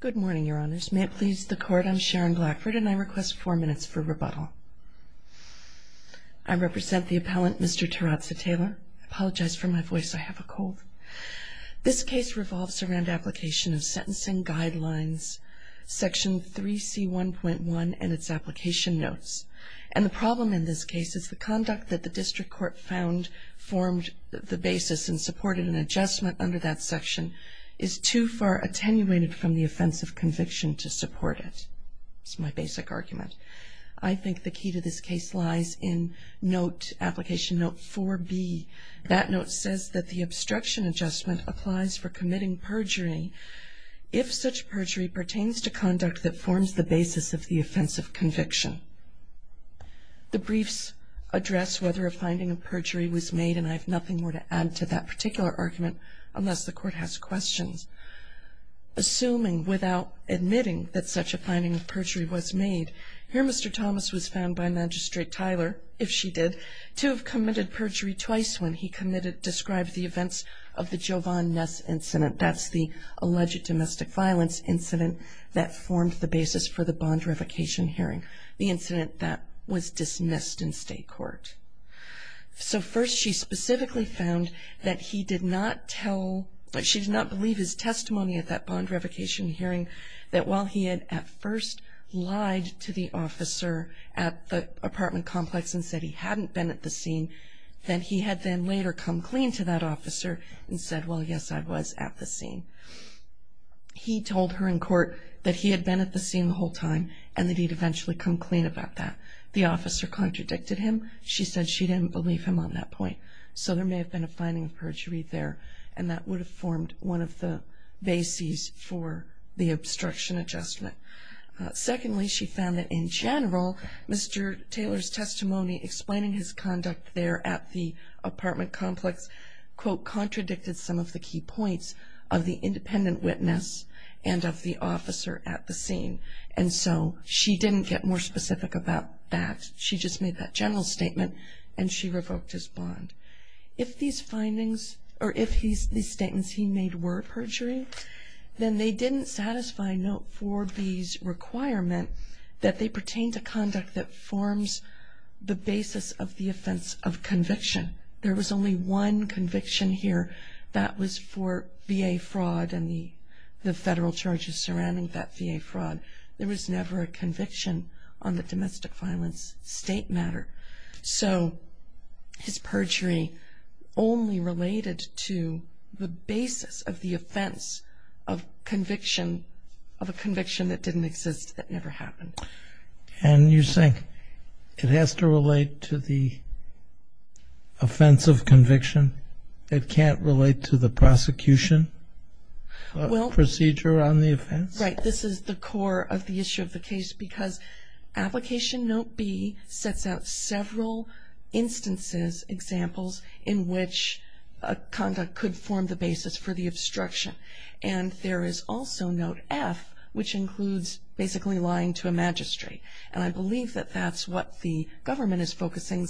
Good morning, Your Honors. May it please the Court, I'm Sharon Blackford, and I request four minutes for rebuttal. I represent the appellant, Mr. Terazze Taylor. I apologize for my voice, I have a cold. This case revolves around application of sentencing guidelines, section 3C1.1, and its application notes. And the problem in this case is the conduct that the district court found formed the basis and supported an adjustment under that section is too far attenuated from the offense of conviction to support it. That's my basic argument. I think the key to this case lies in note, application note 4B. That note says that the obstruction adjustment applies for committing perjury if such perjury pertains to conduct that forms the basis of the offense of conviction. The briefs address whether a finding of perjury was made, and I have nothing more to add to that particular argument unless the Court has questions. Assuming without admitting that such a finding of perjury was made, here Mr. Thomas was found by Magistrate Tyler, if she did, to have committed perjury twice when he described the events of the Jovan Ness incident. That's the alleged domestic violence incident that formed the basis for the bond revocation hearing. The incident that was dismissed in state court. So first she specifically found that he did not tell, she did not believe his testimony at that bond revocation hearing that while he had at first lied to the officer at the apartment complex and said he hadn't been at the scene, that he had then later come clean to that officer and said, well, yes, I was at the scene. He told her in court that he had been at the scene the whole time and that he'd eventually come clean about that. The officer contradicted him. She said she didn't believe him on that point. So there may have been a finding of perjury there, and that would have formed one of the bases for the obstruction adjustment. Secondly, she found that in general, Mr. Taylor's testimony explaining his conduct there at the apartment complex, quote, contradicted some of the key points of the independent witness and of the officer at the scene. And so she didn't get more specific about that. She just made that general statement and she revoked his bond. If these findings or if these statements he made were perjury, then they didn't satisfy Note 4B's requirement that they pertain to conduct that forms the basis of the offense of conviction. There was only one conviction here. That was for VA fraud and the federal charges surrounding that VA fraud. There was never a conviction on the domestic violence state matter. So his perjury only related to the basis of the offense of conviction of a conviction that didn't exist, that never happened. And you're saying it has to relate to the offense of conviction? It can't relate to the prosecution procedure on the offense? Right. This is the core of the issue of the case because Application Note B sets out several instances, examples in which conduct could form the basis for the obstruction. And there is also Note F, which includes basically lying to a magistrate. And I believe that that's what the government is focusing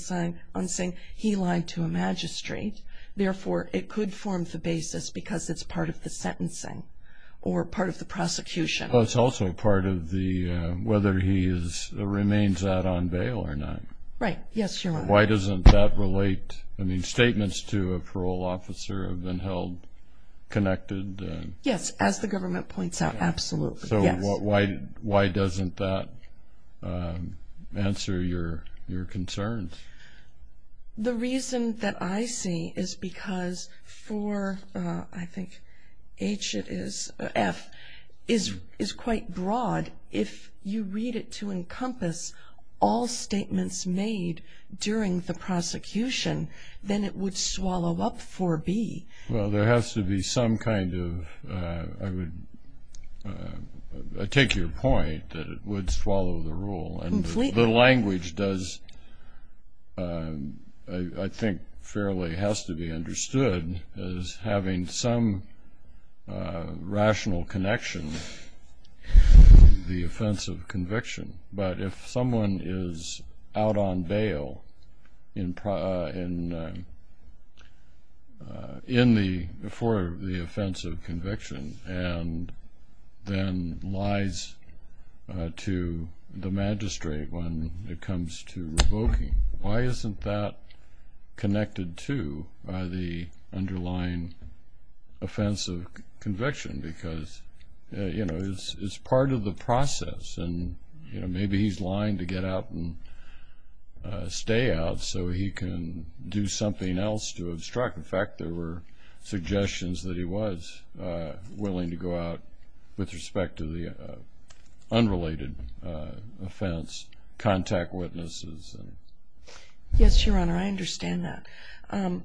on saying he lied to a magistrate. Therefore, it could form the basis because it's part of the sentencing or part of the prosecution. It's also part of whether he remains out on bail or not. Right. Yes, Your Honor. Why doesn't that relate? I mean, statements to a parole officer have been held connected. Yes, as the government points out, absolutely. So why doesn't that answer your concerns? The reason that I see is because for, I think, H it is, F, is quite broad. If you read it to encompass all statements made during the prosecution, then it would swallow up 4B. Well, there has to be some kind of, I would take your point that it would swallow the rule. Completely. The language does, I think, fairly has to be understood as having some rational connection to the offense of conviction. But if someone is out on bail for the offense of conviction and then lies to the magistrate when it comes to revoking, why isn't that connected to the underlying offense of conviction? Because, you know, it's part of the process. And, you know, maybe he's lying to get out and stay out so he can do something else to obstruct. In fact, there were suggestions that he was willing to go out with respect to the unrelated offense, contact witnesses. Yes, Your Honor, I understand that.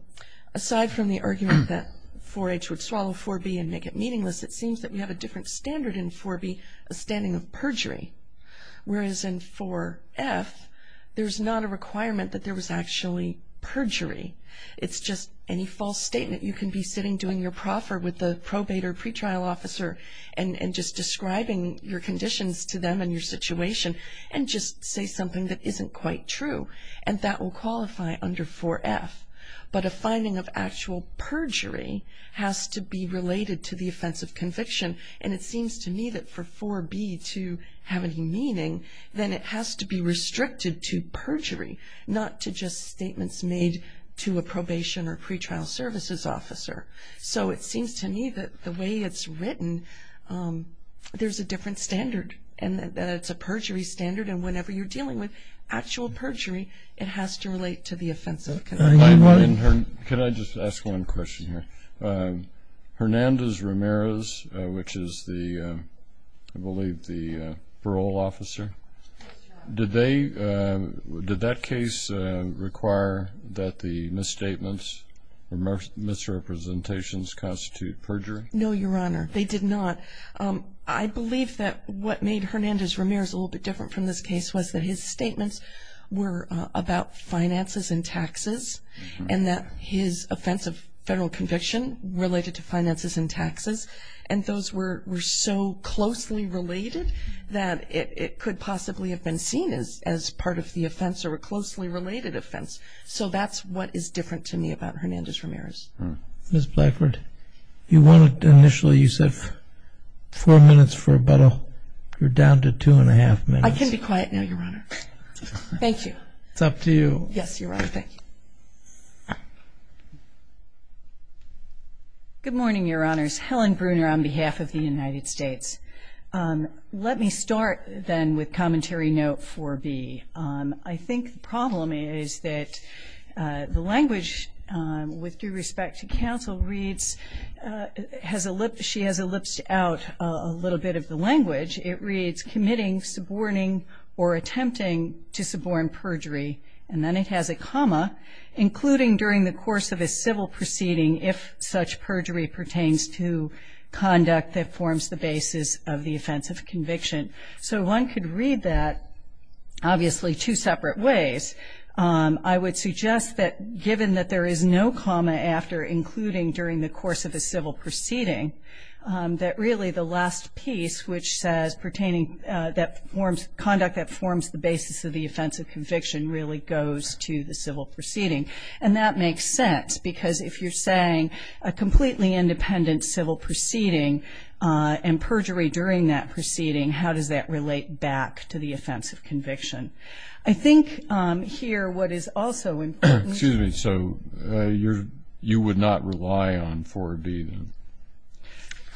Aside from the argument that 4H would swallow 4B and make it meaningless, it seems that we have a different standard in 4B, a standing of perjury. Whereas in 4F, there's not a requirement that there was actually perjury. It's just any false statement. You can be sitting doing your proffer with the probate or pretrial officer and just describing your conditions to them and your situation and just say something that isn't quite true. And that will qualify under 4F. But a finding of actual perjury has to be related to the offense of conviction. And it seems to me that for 4B to have any meaning, then it has to be restricted to perjury, not to just statements made to a probation or pretrial services officer. So it seems to me that the way it's written, there's a different standard and that it's a perjury standard. And whenever you're dealing with actual perjury, it has to relate to the offense of conviction. Can I just ask one question here? Hernandez-Ramirez, which is the, I believe, the parole officer, did that case require that the misstatements or misrepresentations constitute perjury? No, Your Honor, they did not. I believe that what made Hernandez-Ramirez a little bit different from this case was that his statements were about finances and taxes and that his offense of federal conviction related to finances and taxes. And those were so closely related that it could possibly have been seen as part of the offense or a closely related offense. So that's what is different to me about Hernandez-Ramirez. Ms. Blackford, you wanted initially, you said four minutes for about a, you're down to two and a half minutes. I can be quiet now, Your Honor. Thank you. It's up to you. Yes, Your Honor, thank you. Good morning, Your Honors. Helen Bruner on behalf of the United States. Let me start then with commentary note 4B. I think the problem is that the language with due respect to counsel reads, she has ellipsed out a little bit of the language. It reads, committing, suborning, or attempting to suborn perjury. And then it has a comma, including during the course of a civil proceeding, if such perjury pertains to conduct that forms the basis of the offense of conviction. So one could read that, obviously, two separate ways. I would suggest that given that there is no comma after including during the course of a civil proceeding, that really the last piece which says pertaining that forms conduct that forms the basis of the offense of conviction really goes to the civil proceeding. And that makes sense because if you're saying a completely independent civil proceeding and perjury during that proceeding, how does that relate back to the offense of conviction? I think here what is also important. Excuse me. So you would not rely on 4B then?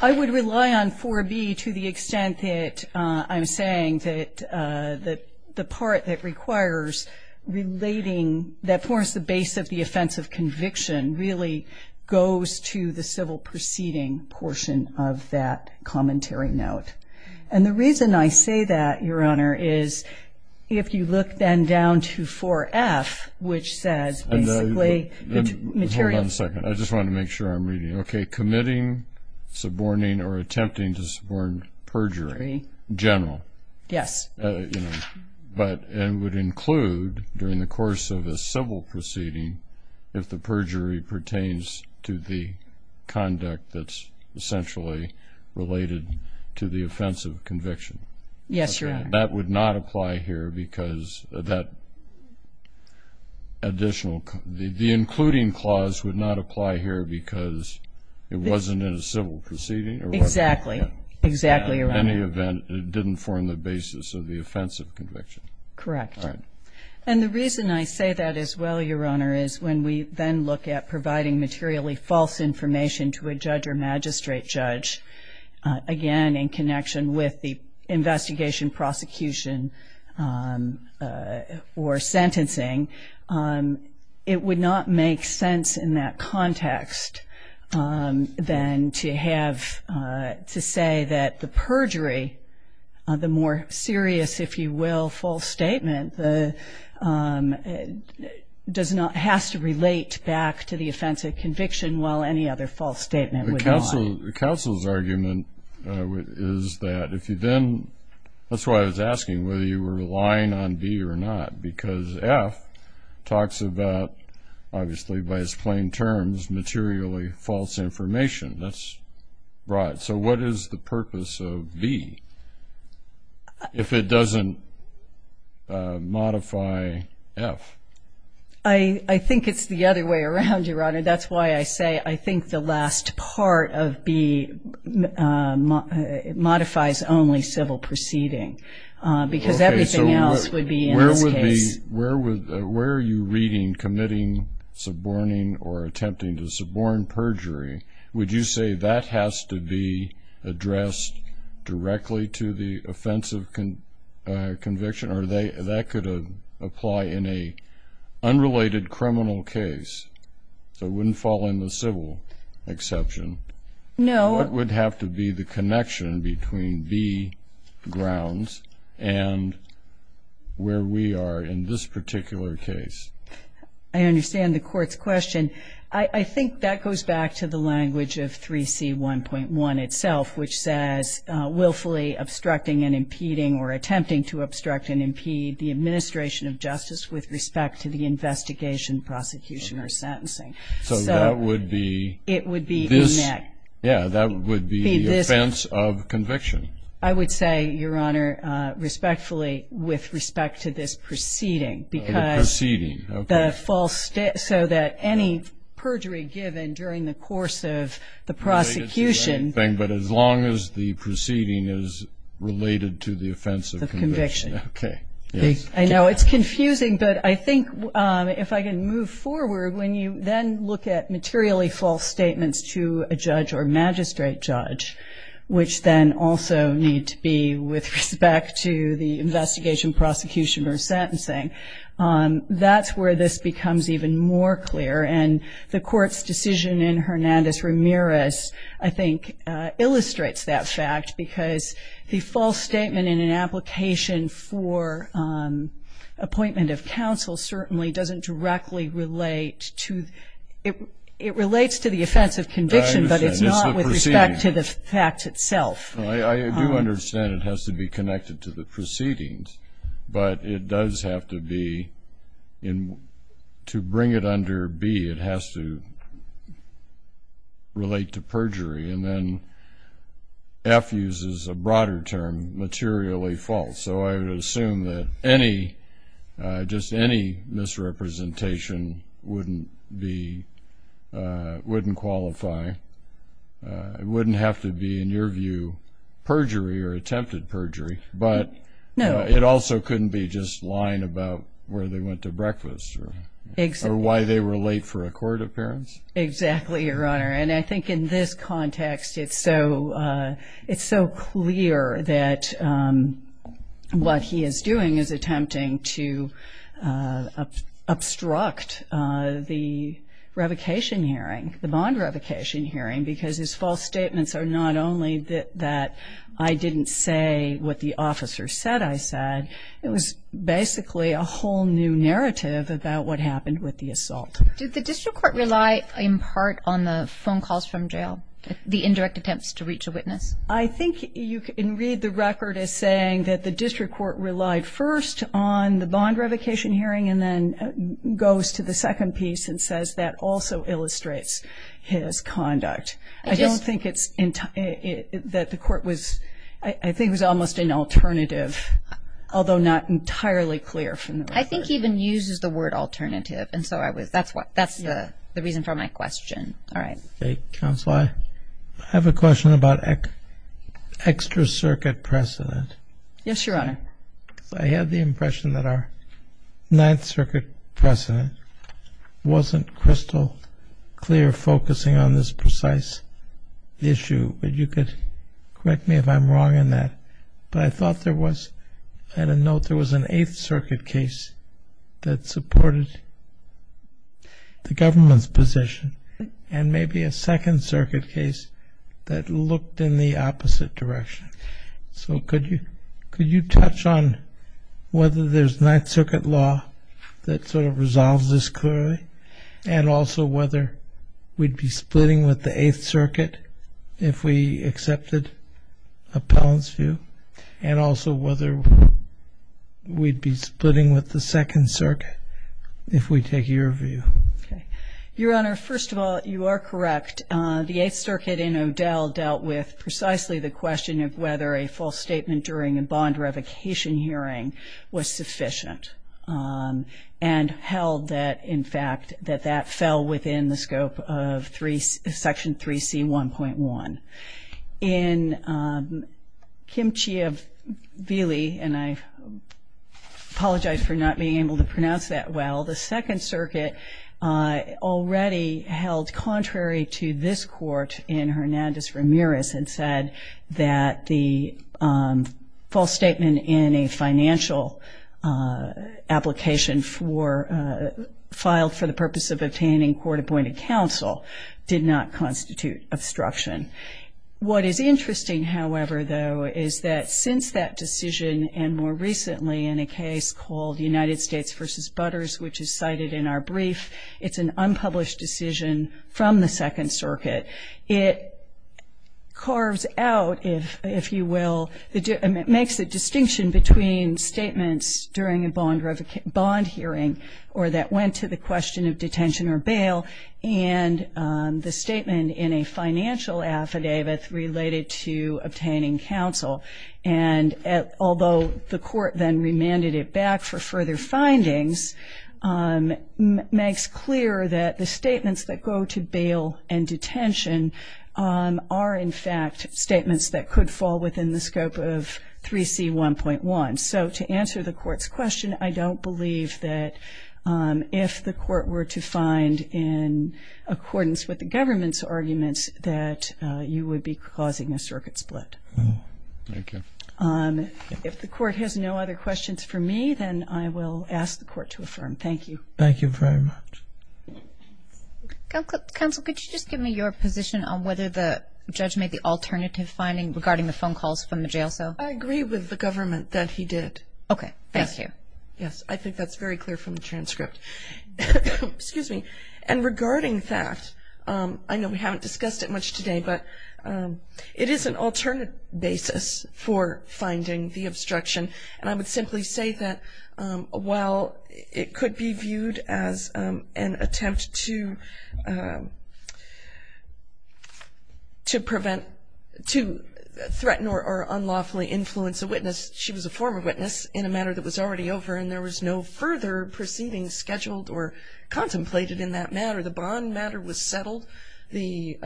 I would rely on 4B to the extent that I'm saying that the part that requires relating, that forms the base of the offense of conviction, really goes to the civil proceeding portion of that commentary note. And the reason I say that, Your Honor, is if you look then down to 4F, which says basically material. Hold on a second. I just want to make sure I'm reading. Okay, committing, suborning, or attempting to suborn perjury, general. Yes. But it would include during the course of a civil proceeding, if the perjury pertains to the conduct that's essentially related to the offense of conviction. Yes, Your Honor. That would not apply here because that additional, the including clause would not apply here because it wasn't in a civil proceeding? Exactly. Exactly, Your Honor. In any event, it didn't form the basis of the offense of conviction. Correct. Right. And the reason I say that as well, Your Honor, is when we then look at providing materially false information to a judge or magistrate judge, again in connection with the investigation, prosecution, or sentencing, it would not make sense in that context then to have, to say that the perjury, the more serious, if you will, false statement, does not, has to relate back to the offense of conviction, while any other false statement would not. The counsel's argument is that if you then, that's why I was asking, whether you were relying on B or not, because F talks about, obviously by its plain terms, materially false information. That's right. So what is the purpose of B if it doesn't modify F? I think it's the other way around, Your Honor. That's why I say I think the last part of B modifies only civil proceeding because everything else would be in this case. Where are you reading committing, suborning, or attempting to suborn perjury? Would you say that has to be addressed directly to the offense of conviction or that could apply in an unrelated criminal case? So it wouldn't fall in the civil exception. No. What would have to be the connection between B grounds and where we are in this particular case? I understand the court's question. I think that goes back to the language of 3C1.1 itself, which says willfully obstructing and impeding or attempting to obstruct and impede the administration of justice with respect to the investigation, prosecution, or sentencing. So that would be this? Yes. Yeah, that would be the offense of conviction. I would say, Your Honor, respectfully, with respect to this proceeding. The proceeding, okay. So that any perjury given during the course of the prosecution. But as long as the proceeding is related to the offense of conviction. Of conviction. Okay. I know it's confusing, but I think if I can move forward, when you then look at materially false statements to a judge or magistrate judge, which then also need to be with respect to the investigation, prosecution, or sentencing, that's where this becomes even more clear. And the court's decision in Hernandez-Ramirez, I think, illustrates that fact because the false statement in an application for appointment of counsel certainly doesn't directly relate to, it relates to the offense of conviction, but it's not with respect to the fact itself. I do understand it has to be connected to the proceedings, but it does have to be, to bring it under B, it has to relate to perjury. And then F uses a broader term, materially false. So I would assume that just any misrepresentation wouldn't qualify. It wouldn't have to be, in your view, perjury or attempted perjury, but it also couldn't be just lying about where they went to breakfast or why they were late for a court appearance. Exactly, Your Honor. And I think in this context it's so clear that what he is doing is attempting to obstruct the revocation hearing, the bond revocation hearing, because his false statements are not only that I didn't say what the officer said I said, it was basically a whole new narrative about what happened with the assault. Did the district court rely in part on the phone calls from jail, the indirect attempts to reach a witness? I think you can read the record as saying that the district court relied first on the bond revocation hearing and then goes to the second piece and says that also illustrates his conduct. I don't think it's that the court was, I think it was almost an alternative, although not entirely clear from the record. I think he even uses the word alternative, and so that's the reason for my question. All right. Counsel, I have a question about extra circuit precedent. Yes, Your Honor. I had the impression that our Ninth Circuit precedent wasn't crystal clear, focusing on this precise issue, but you could correct me if I'm wrong in that. But I thought there was, at a note, there was an Eighth Circuit case that supported the government's position, and maybe a Second Circuit case that looked in the opposite direction. So could you touch on whether there's Ninth Circuit law that sort of resolves this clearly, and also whether we'd be splitting with the Eighth Circuit if we accepted Appellant's view, and also whether we'd be splitting with the Second Circuit if we take your view? Okay. Your Honor, first of all, you are correct. The Eighth Circuit in Odell dealt with precisely the question of whether a false statement during a bond revocation hearing was sufficient and held that, in fact, that that fell within the scope of Section 3C1.1. In Kim Chiavelli, and I apologize for not being able to pronounce that well, the Second Circuit already held contrary to this court in Hernandez-Ramirez and said that the false statement in a financial application filed for the purpose of obtaining court-appointed counsel did not constitute obstruction. What is interesting, however, though, is that since that decision, and more recently in a case called United States v. Butters, which is cited in our brief, it's an unpublished decision from the Second Circuit. It carves out, if you will, it makes a distinction between statements during a bond hearing or that went to the question of detention or bail and the statement in a financial affidavit related to obtaining counsel. And although the court then remanded it back for further findings, it makes clear that the statements that go to bail and detention are, in fact, statements that could fall within the scope of 3C1.1. So to answer the court's question, I don't believe that if the court were to find in accordance with the government's arguments that you would be causing a circuit split. Thank you. If the court has no other questions for me, then I will ask the court to affirm. Thank you. Thank you very much. Counsel, could you just give me your position on whether the judge made the alternative finding regarding the phone calls from the jail cell? I agree with the government that he did. Okay, thank you. Yes, I think that's very clear from the transcript. Excuse me. And regarding that, I know we haven't discussed it much today, but it is an alternate basis for finding the obstruction. And I would simply say that while it could be viewed as an attempt to prevent, to threaten or unlawfully influence a witness, she was a former witness in a matter that was already over and there was no further proceedings scheduled or contemplated in that matter. The bond matter was settled. The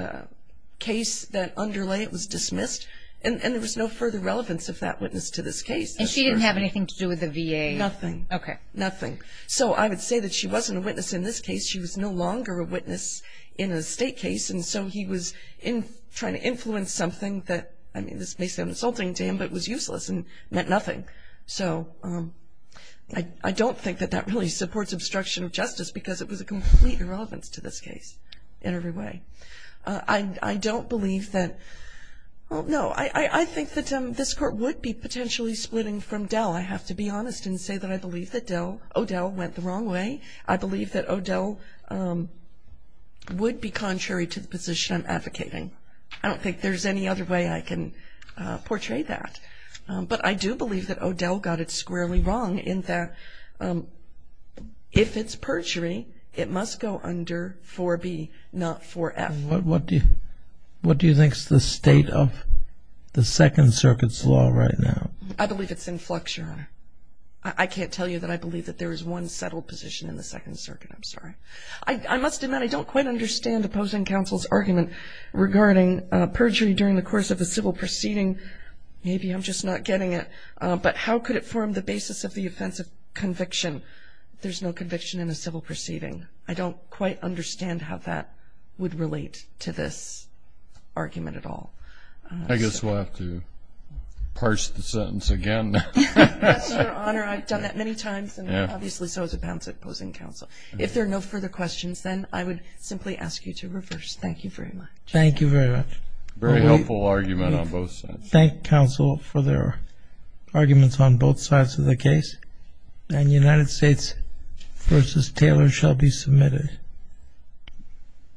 case that underlay it was dismissed, and there was no further relevance of that witness to this case. And she didn't have anything to do with the VA? Nothing. Okay. Nothing. So I would say that she wasn't a witness in this case. She was no longer a witness in a state case, and so he was trying to influence something that, I mean, this may sound insulting to him, but was useless and meant nothing. So I don't think that that really supports obstruction of justice because it was a complete irrelevance to this case in every way. I don't believe that no, I think that this court would be potentially splitting from Dell. I have to be honest and say that I believe that O'Dell went the wrong way. I believe that O'Dell would be contrary to the position I'm advocating. I don't think there's any other way I can portray that. But I do believe that O'Dell got it squarely wrong in that if it's perjury, it must go under 4B, not 4F. What do you think is the state of the Second Circuit's law right now? I believe it's in flux, Your Honor. I can't tell you that I believe that there is one settled position in the Second Circuit. I'm sorry. I must admit I don't quite understand opposing counsel's argument regarding perjury during the course of a civil proceeding. Maybe I'm just not getting it. But how could it form the basis of the offense of conviction? There's no conviction in a civil proceeding. I don't quite understand how that would relate to this argument at all. I guess we'll have to parse the sentence again. Yes, Your Honor. I've done that many times, and obviously so has the balance of opposing counsel. If there are no further questions, then I would simply ask you to reverse. Thank you very much. Thank you very much. Very helpful argument on both sides. I thank counsel for their arguments on both sides of the case. The United States v. Taylor shall be submitted.